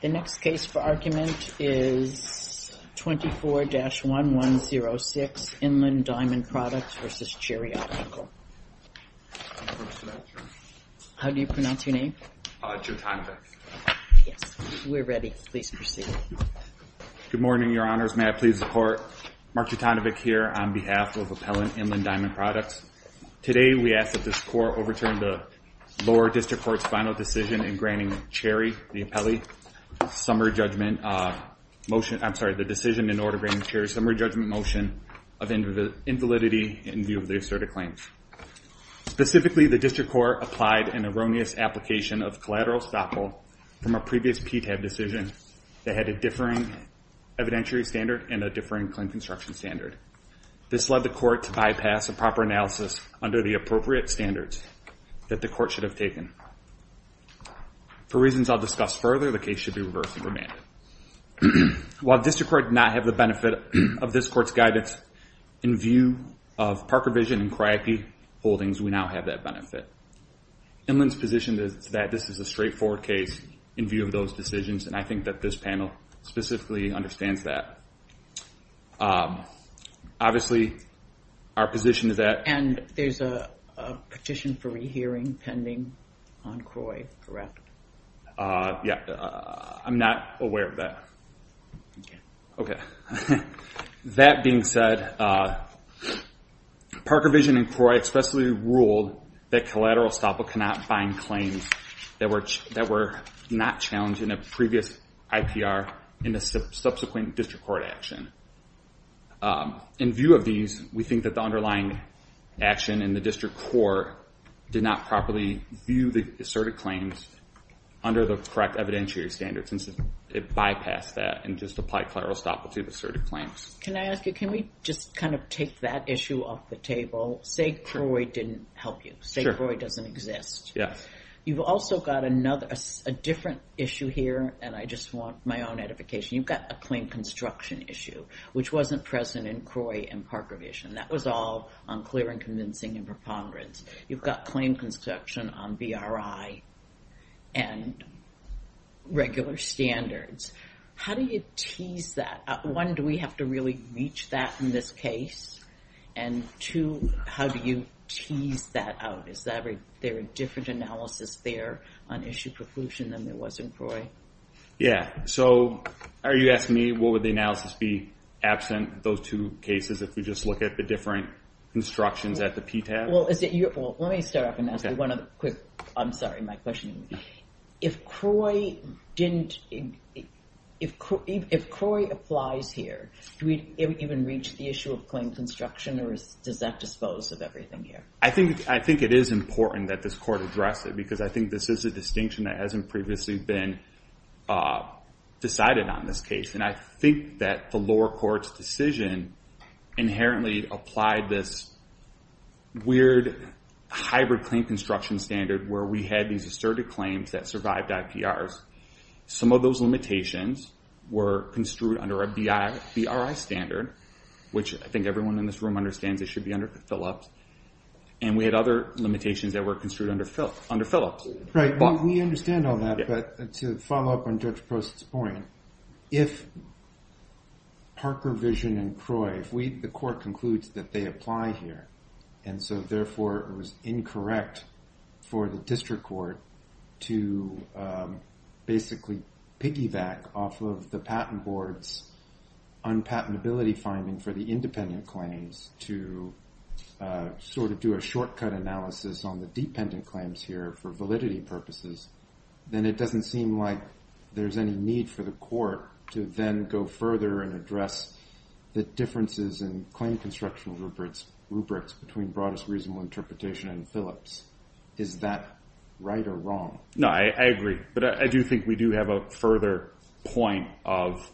The next case for argument is 24-1106, Inland Diamond Products v. Cherry Optical. How do you pronounce your name? Jotanovic. Yes. We're ready. Please proceed. Good morning, Your Honors. May I please support Mark Jotanovic here on behalf of Appellant Inland Diamond Products. Today we ask that this Court overturn the lower district court's final decision in granting Cherry, the decision in order to grant Cherry a summary judgment motion of invalidity in view of the asserted claims. Specifically, the district court applied an erroneous application of collateral stoppable from a previous PTAB decision that had a differing evidentiary standard and a differing claim construction standard. This led the court to bypass a proper analysis under the appropriate standards that the court should have taken. For reasons I'll discuss further, the case should be reversed and remanded. While the district court did not have the benefit of this court's guidance in view of Parker Vision and Cryope Holdings, we now have that benefit. Inland's position is that this is a straightforward case in view of those decisions, and I think that this panel specifically understands that. Obviously, our position is that... And there's a petition for rehearing pending on CROI, correct? Yeah, I'm not aware of that. Okay. That being said, Parker Vision and CROI expressly ruled that collateral stoppable cannot find claims that were not challenged in a previous IPR in a subsequent district court action. In view of these, we think that the underlying action in the district court did not properly view the asserted claims under the correct evidentiary standards, and so it bypassed that and just applied collateral stoppable to the asserted claims. Can I ask you, can we just kind of take that issue off the table? Say CROI didn't help you. Sure. CROI doesn't exist. You've also got a different issue here, and I just want my own edification. You've got a claim construction issue, which wasn't present in CROI and Parker Vision. That was all on clear and convincing and preponderance. You've got claim construction on BRI and regular standards. How do you tease that? One, do we have to really reach that in this case? And two, how do you tease that out? Is there a different analysis there on issue preclusion than there was in CROI? Yeah. So are you asking me what would the analysis be absent those two cases if we just look at the different constructions at the PTAB? Well, let me start off and ask you one other quick, I'm sorry, my question. If CROI didn't, if CROI applies here, do we even reach the issue of claim construction or does that dispose of everything here? I think it is important that this court address it because I think this is a distinction that hasn't previously been decided on this case. And I think that the lower court's decision inherently applied this weird hybrid claim construction standard where we had these asserted claims that survived IPRs. Some of those limitations were construed under a BRI standard, which I think everyone in this room understands it should be under Philips. And we had other limitations that were construed under Philips. Right. We understand all that, but to follow up on Judge Post's point, if Parker, Vision, and CROI, if the court concludes that they apply here, and so therefore it was incorrect for the district court to basically piggyback off of the patent board's unpatentability finding for the independent claims to sort of do a shortcut analysis on the dependent claims here for validity purposes, then it doesn't seem like there's any need for the court to then go further and address the differences in claim construction rubrics between broadest reasonable interpretation and Philips. Is that right or wrong? No, I agree. But I do think we do have a further point of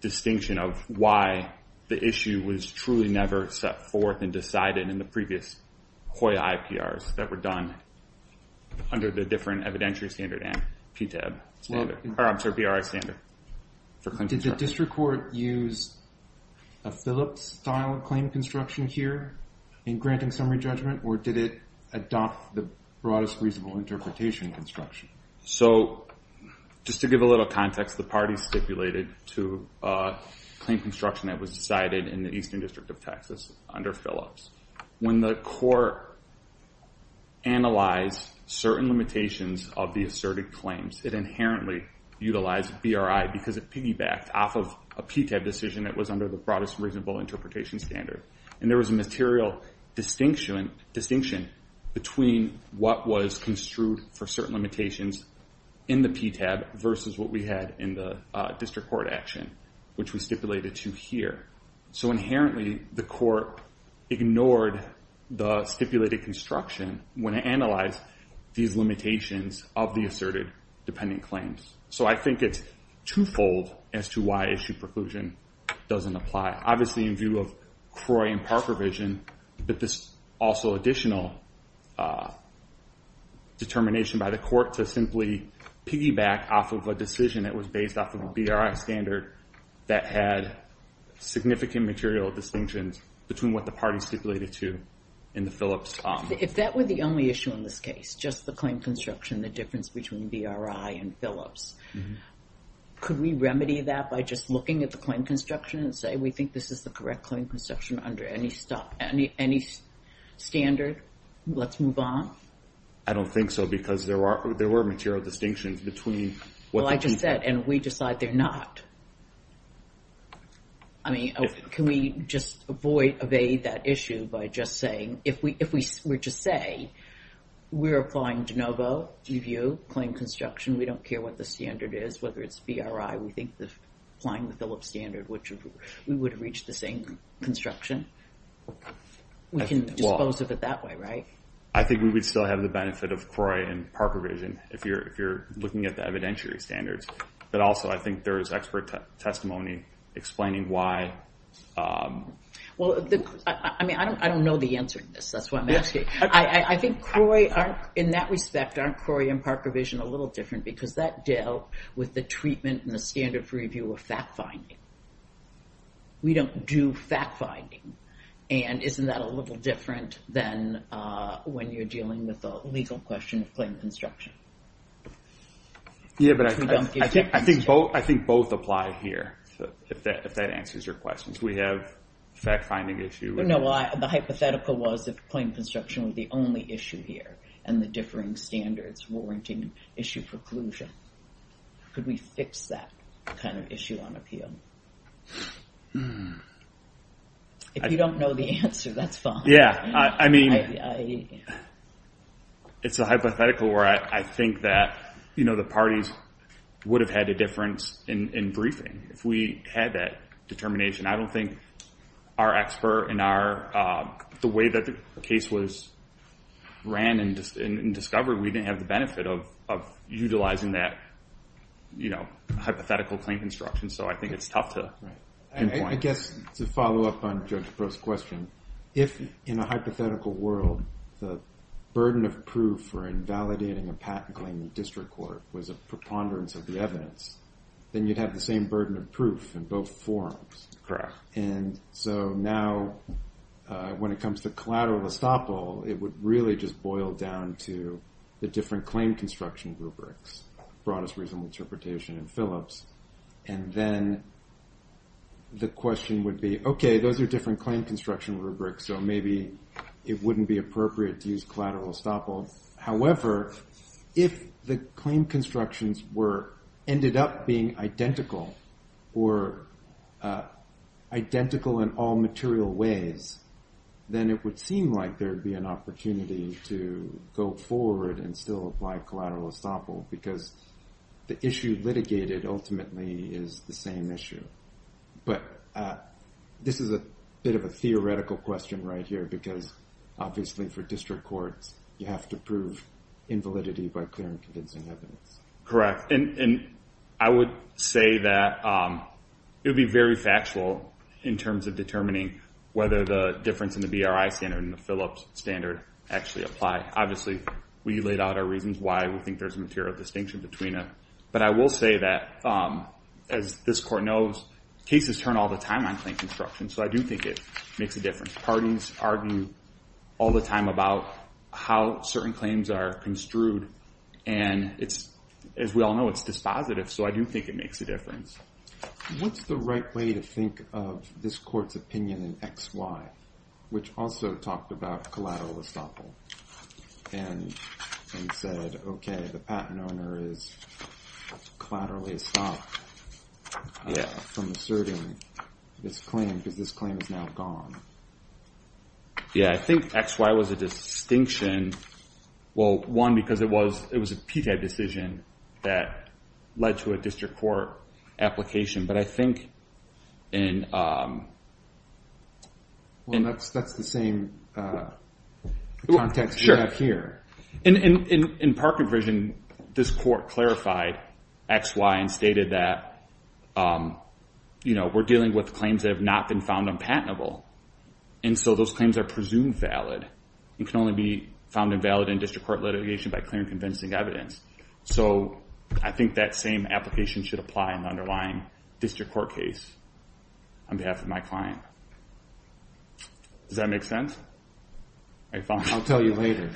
distinction of why the issue was truly never set forth and decided in the previous HOIA IPRs that were done under the different evidentiary standard and PTAB standard, or I'm sorry, BRI standard for claim construction. Did the district court use a Philips-style claim construction here in granting summary judgment, or did it adopt the broadest reasonable interpretation construction? So just to give a little context, the parties stipulated to claim construction that was decided in the Eastern District of Texas under Philips. When the court analyzed certain limitations of the asserted claims, it inherently utilized BRI because it piggybacked off of a PTAB decision that was under the broadest reasonable interpretation standard. And there was a material distinction between what was construed for certain limitations in the PTAB versus what we had in the district court action, which we stipulated to here. So inherently, the court ignored the stipulated construction when it analyzed these limitations of the asserted dependent claims. So I think it's twofold as to why issue preclusion doesn't apply. Obviously, in view of CROI and PARPA provision, but this also additional determination by the court to simply piggyback off of a decision that was based off of a BRI standard that had significant material distinctions between what the parties stipulated to in the Philips column. If that were the only issue in this case, just the claim construction, the difference between BRI and Philips, could we remedy that by just looking at the claim construction and say, we think this is the correct claim construction under any standard. Let's move on. I don't think so, because there were material distinctions between what the parties said. Well, I just said, and we decide they're not. I mean, can we just avoid, evade that issue by just saying, if we were to say, we're applying de novo, review claim construction, we don't care what the standard is, whether it's BRI, we think applying the Philips standard, which we would have reached the same construction. We can dispose of it that way, right? I think we would still have the benefit of CROI and PARPA provision if you're looking at the evidentiary standards, but also I think there is expert testimony explaining why. Well, I mean, I don't know the answer to this, that's why I'm asking. I think CROI, in that respect, aren't CROI and PARPA provision a little different because that dealt with the treatment and the standard for review of fact-finding. We don't do fact-finding, and isn't that a little different than when you're dealing with the legal question of claim construction? Yeah, but I think both apply here, if that answers your question. We have fact-finding issue. No, the hypothetical was if claim construction was the only issue here, and the differing standards, warranting, issue preclusion, could we fix that kind of issue on appeal? If you don't know the answer, that's fine. Yeah, I mean, it's a hypothetical where I think that the parties would have had a difference in briefing if we had that determination. I don't think our expert in the way that the case was ran and discovered, we didn't have the benefit of utilizing that hypothetical claim construction, so I think it's tough to pinpoint. I guess to follow up on Judge Breaux's question, if in a hypothetical world, the burden of proof for invalidating a patent claim in district court was a preponderance of the evidence, then you'd have the same burden of proof in both forums. Correct. And so now, when it comes to collateral estoppel, it would really just boil down to the different claim construction rubrics, broadest reasonable interpretation and Phillips, and then the question would be, okay, those are different claim construction rubrics, so maybe it wouldn't be appropriate to use collateral estoppel, however, if the claim constructions ended up being identical or identical in all material ways, then it would seem like there'd be an opportunity to go forward and still apply collateral estoppel because the issue litigated ultimately is the same issue, but this is a bit of a theoretical question right here because obviously for district courts, you have to prove invalidity by clear and convincing evidence. Correct. And I would say that it would be very factual in terms of determining whether the difference in the BRI standard and the Phillips standard actually apply. Obviously we laid out our reasons why we think there's a material distinction between them, but I will say that, as this court knows, cases turn all the time on claim construction, so I do think it makes a difference. Parties argue all the time about how certain claims are construed and it's, as we all know, it's dispositive, so I do think it makes a difference. What's the right way to think of this court's opinion in X, Y, which also talked about collateral estoppel and said, okay, the patent owner is collateral estoppel from asserting this claim because this claim is now gone. Yeah, I think X, Y was a distinction, well, one, because it was a PTAB decision that led to a district court application, but I think in... Well, that's the same context we have here. In Parker vision, this court clarified X, Y and stated that we're dealing with claims that have not been found unpatentable, and so those claims are presumed valid. It can only be found invalid in district court litigation by clear and convincing evidence, so I think that same application should apply in the underlying district court case on behalf of my client. Does that make sense? I found... I'll tell you later.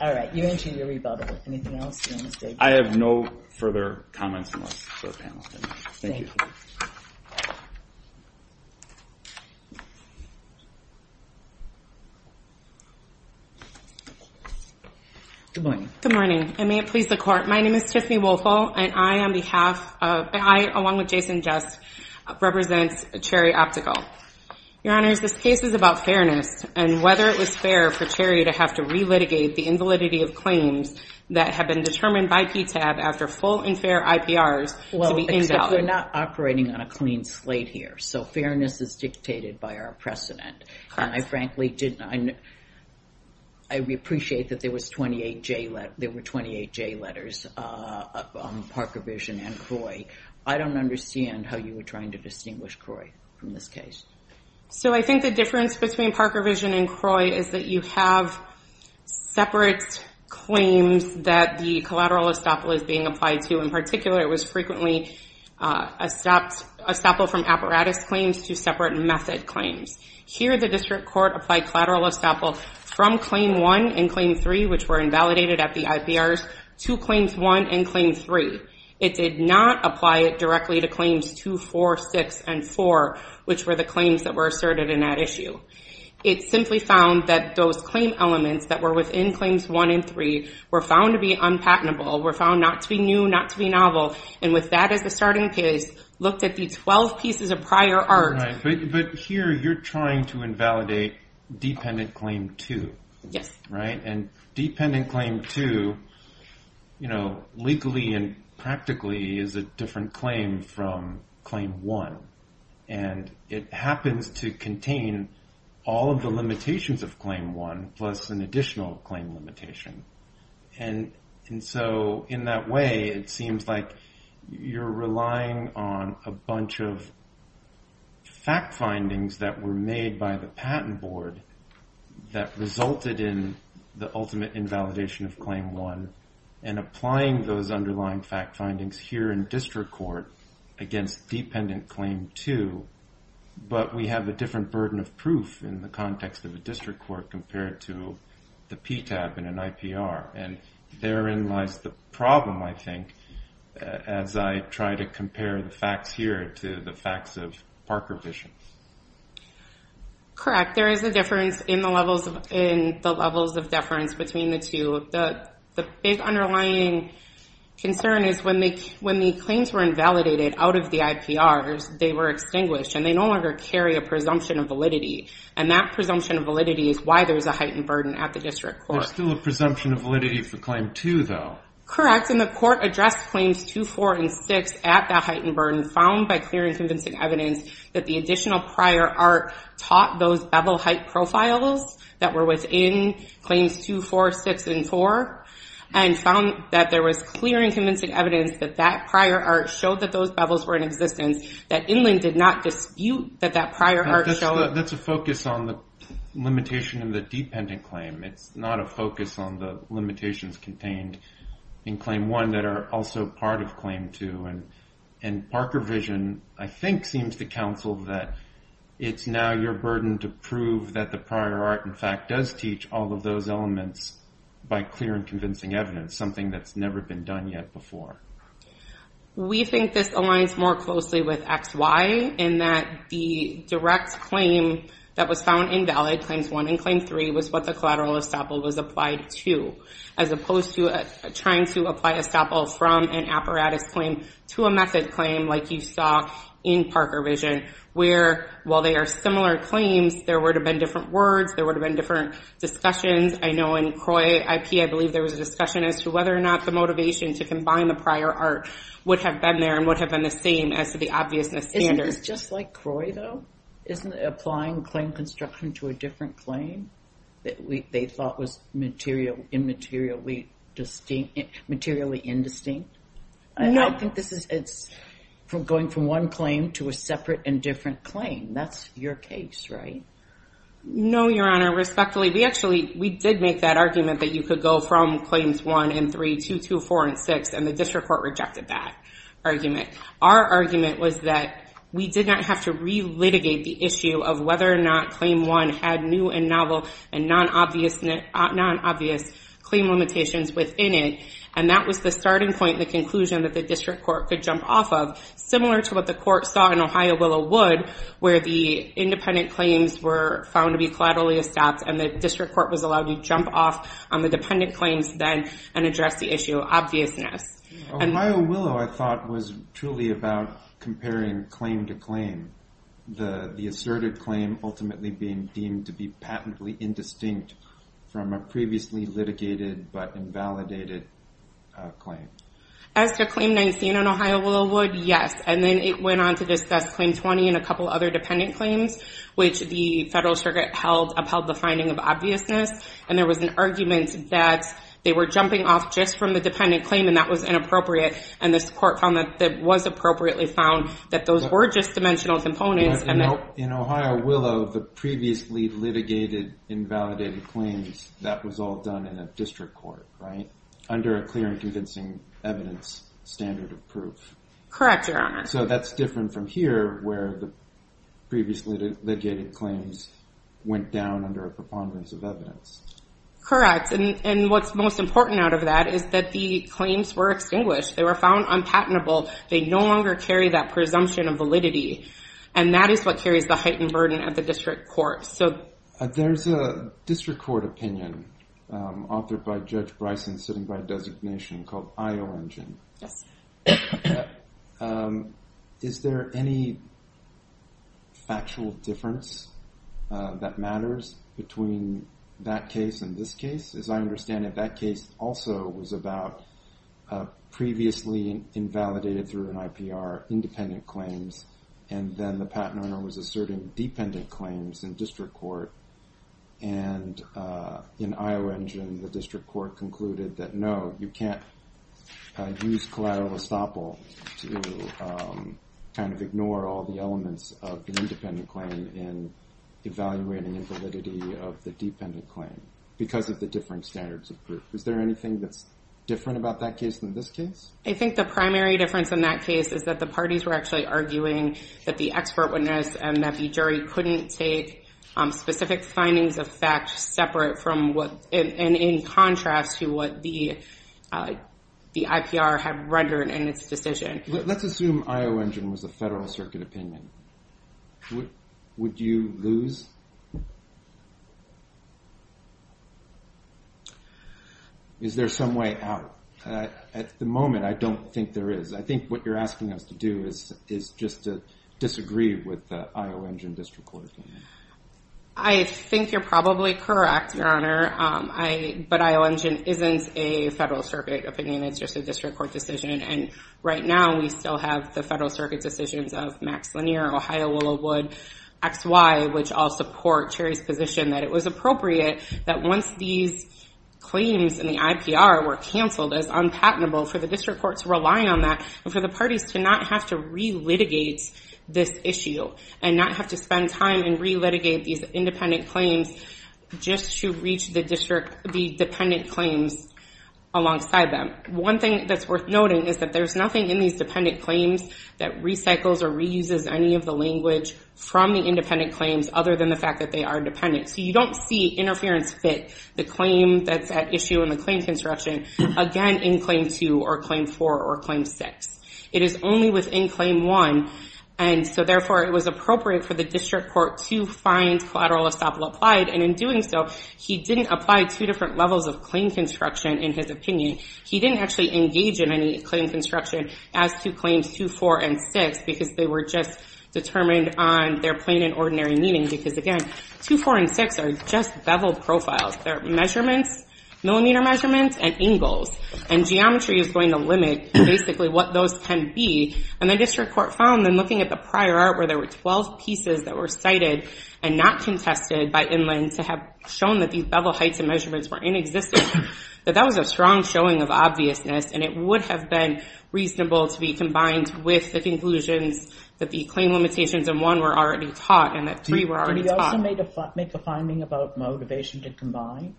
All right, you mentioned your rebuttal. Anything else you want to say? I have no further comments for the panel. Thank you. Thank you. Thank you. Good morning. Good morning. I may it please the court, my name is Tiffany Wolfel, and I, along with Jason Just, represent Cherry Optical. Your honors, this case is about fairness and whether it was fair for Cherry to have to relitigate the invalidity of claims that have been determined by PTAB after full and fair IPRs to be invalid. But we're not operating on a clean slate here, so fairness is dictated by our precedent, and I frankly didn't... I appreciate that there were 28 J letters up on Parker Vision and CROI. I don't understand how you were trying to distinguish CROI from this case. So I think the difference between Parker Vision and CROI is that you have separate claims that the collateral estoppel is being applied to. In particular, it was frequently estoppel from apparatus claims to separate method claims. Here the district court applied collateral estoppel from claim one and claim three, which were invalidated at the IPRs, to claims one and claim three. It did not apply it directly to claims two, four, six, and four, which were the claims that were asserted in that issue. It simply found that those claim elements that were within claims one and three were found to be unpatentable, were found not to be new, not to be novel, and with that as the starting case, looked at the 12 pieces of prior art... But here you're trying to invalidate dependent claim two. Yes. Right? And dependent claim two, legally and practically, is a different claim from claim one, and it happens to contain all of the limitations of claim one, plus an additional claim limitation. And so in that way, it seems like you're relying on a bunch of fact findings that were made by the patent board that resulted in the ultimate invalidation of claim one, and applying those underlying fact findings here in district court against dependent claim two, but we have a different burden of proof in the context of a district court compared to the PTAB and an IPR. And therein lies the problem, I think, as I try to compare the facts here to the facts of Parker vision. Correct. There is a difference in the levels of deference between the two. So the big underlying concern is when the claims were invalidated out of the IPRs, they were extinguished, and they no longer carry a presumption of validity. And that presumption of validity is why there's a heightened burden at the district court. There's still a presumption of validity for claim two, though. Correct. And the court addressed claims two, four, and six at that heightened burden, found by clearing convincing evidence that the additional prior art taught those bevel height profiles that were within claims two, four, six, and four, and found that there was clear and convincing evidence that that prior art showed that those bevels were in existence, that Inland did not dispute that that prior art showed. That's a focus on the limitation in the dependent claim. It's not a focus on the limitations contained in claim one that are also part of claim two. And Parker vision, I think, seems to counsel that it's now your burden to prove that the prior art, in fact, does teach all of those elements by clear and convincing evidence, something that's never been done yet before. We think this aligns more closely with X, Y, in that the direct claim that was found invalid, claims one and claim three, was what the collateral estoppel was applied to, as opposed to trying to apply estoppel from an apparatus claim to a method claim, like you saw in Parker vision, where, while they are similar claims, there would have been different words. There would have been different discussions. I know in CROI IP, I believe there was a discussion as to whether or not the motivation to combine the prior art would have been there and would have been the same as to the obviousness standard. Isn't this just like CROI, though? Isn't applying claim construction to a different claim that they thought was materially indistinct? No. I think this is going from one claim to a separate and different claim. That's your case, right? No, Your Honor. Respectfully, we actually did make that argument that you could go from claims one and three to two, four, and six, and the district court rejected that argument. Our argument was that we did not have to re-litigate the issue of whether or not claim one had new and novel and non-obvious claim limitations within it, and that was the starting point and the conclusion that the district court could jump off of, similar to what the court saw in Ohio Willow Wood, where the independent claims were found to be collaterally established and the district court was allowed to jump off on the dependent claims then and address the issue of obviousness. Ohio Willow, I thought, was truly about comparing claim to claim, the asserted claim ultimately being deemed to be patently indistinct from a previously litigated but invalidated claim. As to claim 19 on Ohio Willow Wood, yes. And then it went on to discuss claim 20 and a couple other dependent claims, which the federal circuit upheld the finding of obviousness, and there was an argument that they were jumping off just from the dependent claim and that was inappropriate. And this court found that it was appropriately found that those were just dimensional components. In Ohio Willow, the previously litigated invalidated claims, that was all done in a district court, right? Under a clear and convincing evidence standard of proof. Correct, Your Honor. So that's different from here, where the previously litigated claims went down under a preponderance of evidence. Correct. And what's most important out of that is that the claims were extinguished. They were found unpatentable. They no longer carry that presumption of validity. And that is what carries the heightened burden of the district court. So there's a district court opinion authored by Judge Bryson sitting by designation called IO Engine. Yes. Is there any factual difference that matters between that case and this case? As I understand it, that case also was about previously invalidated through an IPR independent claims, and then the patent owner was asserting dependent claims in district court, and in IO Engine, the district court concluded that, no, you can't use collateral estoppel to kind of ignore all the elements of the independent claim in evaluating the validity of the dependent claim because of the different standards of proof. Is there anything that's different about that case than this case? I think the primary difference in that case is that the parties were actually arguing that the expert witness and that the jury couldn't take specific findings of fact separate from what, and in contrast to what the IPR had rendered in its decision. Let's assume IO Engine was a federal circuit opinion. Would you lose? Is there some way out? At the moment, I don't think there is. I think what you're asking us to do is just to disagree with the IO Engine district court opinion. I think you're probably correct. Your Honor, but IO Engine isn't a federal circuit opinion. It's just a district court decision, and right now, we still have the federal circuit decisions of Max Lanier, Ohio Willow Wood, XY, which all support Cherry's position that it was appropriate that once these claims in the IPR were canceled as unpatentable for the district court to rely on that and for the parties to not have to re-litigate this issue and not have to spend time and re-litigate these independent claims just to reach the district, the dependent claims alongside them. One thing that's worth noting is that there's nothing in these dependent claims that recycles or reuses any of the language from the independent claims other than the fact that they are dependent. You don't see interference fit the claim that's at issue in the claim construction, again, in claim two or claim four or claim six. It is only within claim one, and so therefore, it was appropriate for the district court to find collateral estoppel applied, and in doing so, he didn't apply two different levels of claim construction in his opinion. He didn't actually engage in any claim construction as to claims two, four, and six because they were just determined on their plain and ordinary meaning because, again, two, four, and six are just beveled profiles. They're measurements, millimeter measurements, and angles, and geometry is going to limit basically what those can be, and the district court found in looking at the prior art where there were 12 pieces that were cited and not contested by Inland to have shown that these bevel heights and measurements were inexistent, that that was a strong showing of obviousness, and it would have been reasonable to be combined with the conclusions that the claim limitations in one were already taught and that three were already taught. Can we also make a finding about motivation to combine?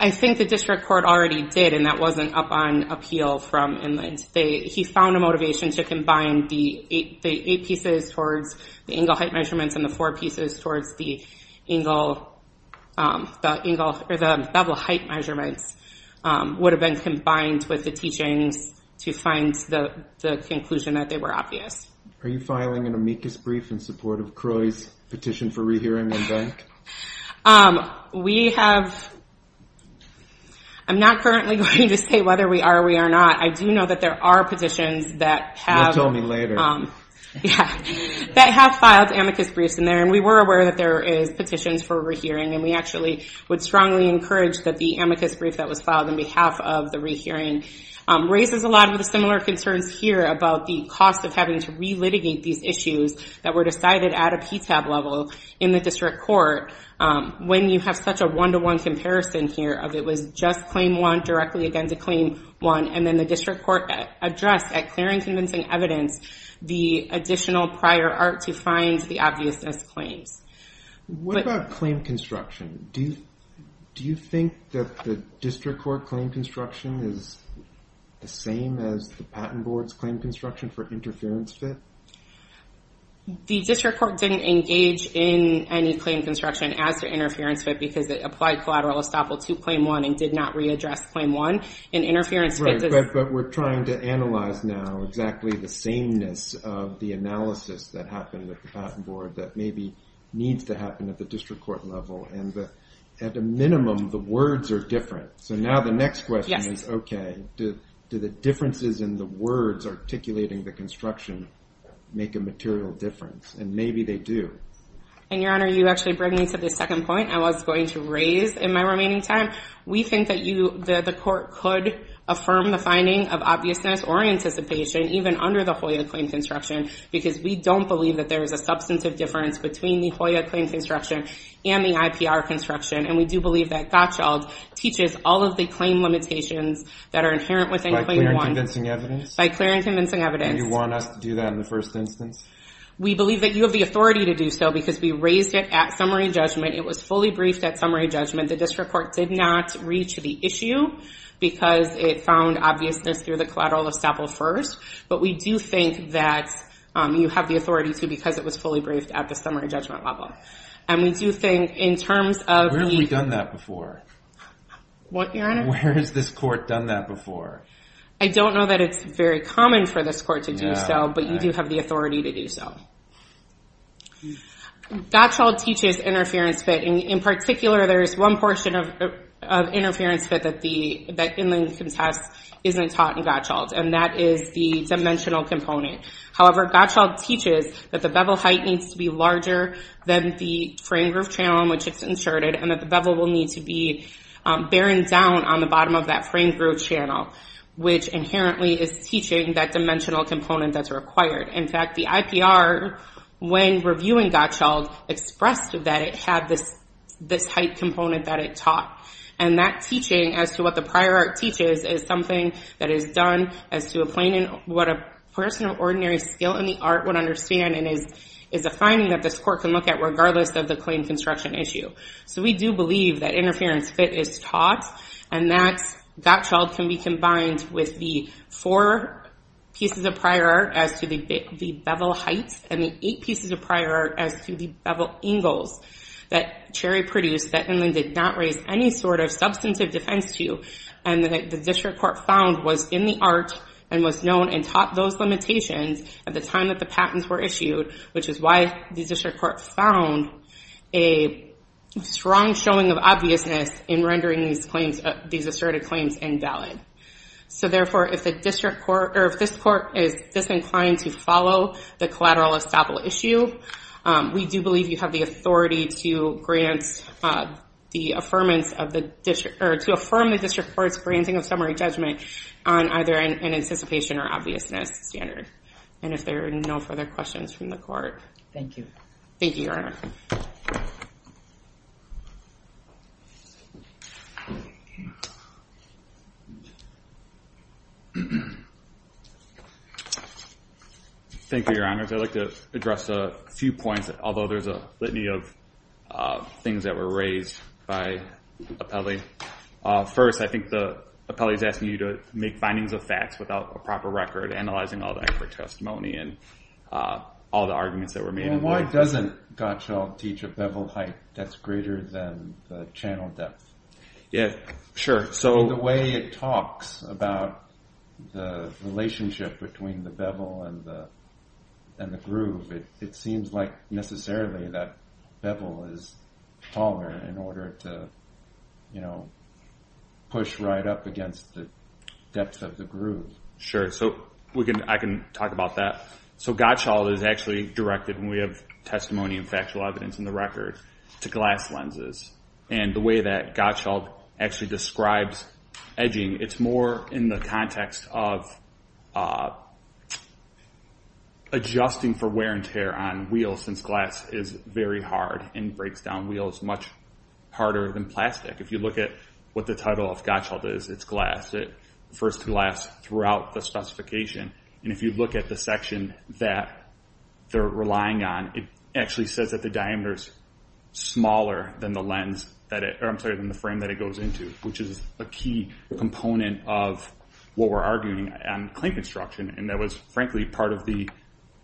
I think the district court already did, and that wasn't up on appeal from Inland. He found a motivation to combine the eight pieces towards the angle height measurements and the four pieces towards the bevel height measurements would have been combined with the teachings to find the conclusion that they were obvious. Are you filing an amicus brief in support of Croy's petition for rehearing in bank? I'm not currently going to say whether we are or we are not. I do know that there are petitions that have filed amicus briefs in there, and we were aware that there is petitions for rehearing, and we actually would strongly encourage that the amicus brief that was filed on behalf of the rehearing raises a lot of the similar concerns here about the cost of having to re-litigate these issues that were decided at a PTAB level in the district court when you have such a one-to-one comparison here of it was just claim one directly against a claim one, and then the district court addressed at clear and convincing evidence the additional prior art to find the obviousness claims. What about claim construction? Do you think that the district court claim construction is the same as the patent board's claim construction for interference fit? The district court didn't engage in any claim construction as to interference fit because it applied collateral estoppel to claim one and did not readdress claim one, and interference fit does... Right, but we're trying to analyze now exactly the sameness of the analysis that happened with the patent board that maybe needs to happen at the district court level, and at a minimum, the words are different. So now the next question is, okay, do the differences in the words articulating the claim construction make a material difference? And maybe they do. And, Your Honor, you actually bring me to the second point I was going to raise in my remaining time. We think that the court could affirm the finding of obviousness or anticipation even under the HOIA claim construction because we don't believe that there is a substantive difference between the HOIA claim construction and the IPR construction, and we do believe that Gottschall teaches all of the claim limitations that are inherent within claim one. By clear and convincing evidence? By clear and convincing evidence. Do you want us to do that in the first instance? We believe that you have the authority to do so because we raised it at summary judgment. It was fully briefed at summary judgment. The district court did not reach the issue because it found obviousness through the collateral of Staple first, but we do think that you have the authority to because it was fully briefed at the summary judgment level. And we do think in terms of the... Where have we done that before? What, Your Honor? Where has this court done that before? I don't know that it's very common for this court to do so, but you do have the authority to do so. Gottschall teaches interference fit, and in particular, there is one portion of interference fit that Inland Contests isn't taught in Gottschall, and that is the dimensional component. However, Gottschall teaches that the bevel height needs to be larger than the frame groove channel in which it's inserted, and that the bevel will need to be bearing down on the which inherently is teaching that dimensional component that's required. In fact, the IPR, when reviewing Gottschall, expressed that it had this height component that it taught. And that teaching as to what the prior art teaches is something that is done as to what a person of ordinary skill in the art would understand, and is a finding that this court can look at regardless of the claim construction issue. So we do believe that interference fit is taught, and that Gottschall can be combined with the four pieces of prior art as to the bevel heights, and the eight pieces of prior art as to the bevel angles that Cherry produced that Inland did not raise any sort of substantive defense to, and that the district court found was in the art, and was known and taught those limitations at the time that the patents were issued, which is why the district court found a strong showing of obviousness in rendering these asserted claims invalid. So therefore, if this court is disinclined to follow the collateral estoppel issue, we do believe you have the authority to affirm the district court's granting of summary judgment on either an anticipation or obviousness standard. And if there are no further questions from the court. Thank you. Thank you, Your Honor. Thank you, Your Honors. I'd like to address a few points, although there's a litany of things that were raised by Appelli. First, I think that Appelli's asking you to make findings of facts without a proper record, analyzing all the expert testimony and all the arguments that were made. Well, why doesn't Gottschall teach a bevel height that's greater than the channel depth? Yeah. Sure. So the way it talks about the relationship between the bevel and the groove, it seems like necessarily that bevel is taller in order to push right up against the depth of the Sure. So I can talk about that. So Gottschall is actually directed, and we have testimony and factual evidence in the record, to glass lenses. And the way that Gottschall actually describes edging, it's more in the context of adjusting for wear and tear on wheels, since glass is very hard and breaks down wheels much harder than plastic. If you look at what the title of Gottschall is, it's glass. It refers to glass throughout the specification. And if you look at the section that they're relying on, it actually says that the diameter is smaller than the lens that it, or I'm sorry, than the frame that it goes into, which is a key component of what we're arguing on clink construction, and that was, frankly, part of the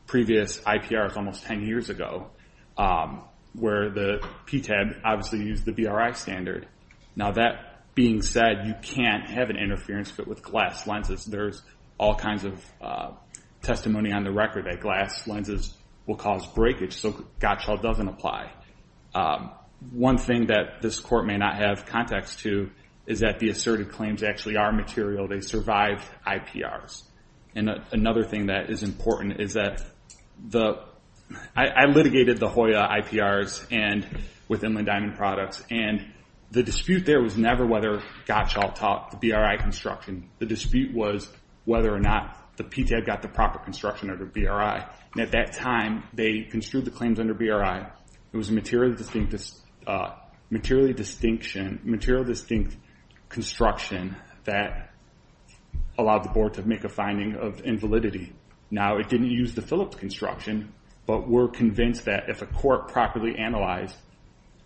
previous IPRs almost 10 years ago, where the PTAB obviously used the BRI standard. Now that being said, you can't have an interference fit with glass lenses. There's all kinds of testimony on the record that glass lenses will cause breakage, so Gottschall doesn't apply. One thing that this court may not have context to is that the asserted claims actually are material. They survived IPRs. And another thing that is important is that the, I litigated the Hoya IPRs with Inland Diamond Products, and the dispute there was never whether Gottschall taught the BRI construction. The dispute was whether or not the PTAB got the proper construction under BRI. And at that time, they construed the claims under BRI. It was a material distinct construction that allowed the board to make a finding of invalidity. Now it didn't use the Phillips construction, but we're convinced that if a court properly analyzed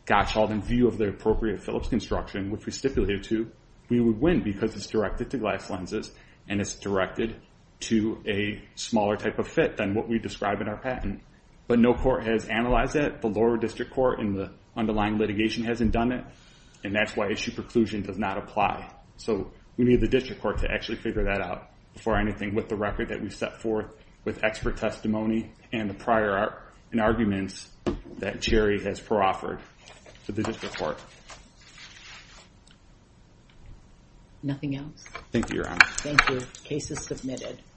Gottschall's view of the appropriate Phillips construction, which we stipulated to, we would win because it's directed to glass lenses, and it's directed to a smaller type of fit than what we describe in our patent. But no court has analyzed it. The lower district court in the underlying litigation hasn't done it, and that's why issue preclusion does not apply. So we need the district court to actually figure that out before anything with the record that we've set forth with expert testimony and the prior arguments that Jerry has proffered to the district court. Nothing else? Thank you, Your Honor. Thank you. Case is submitted.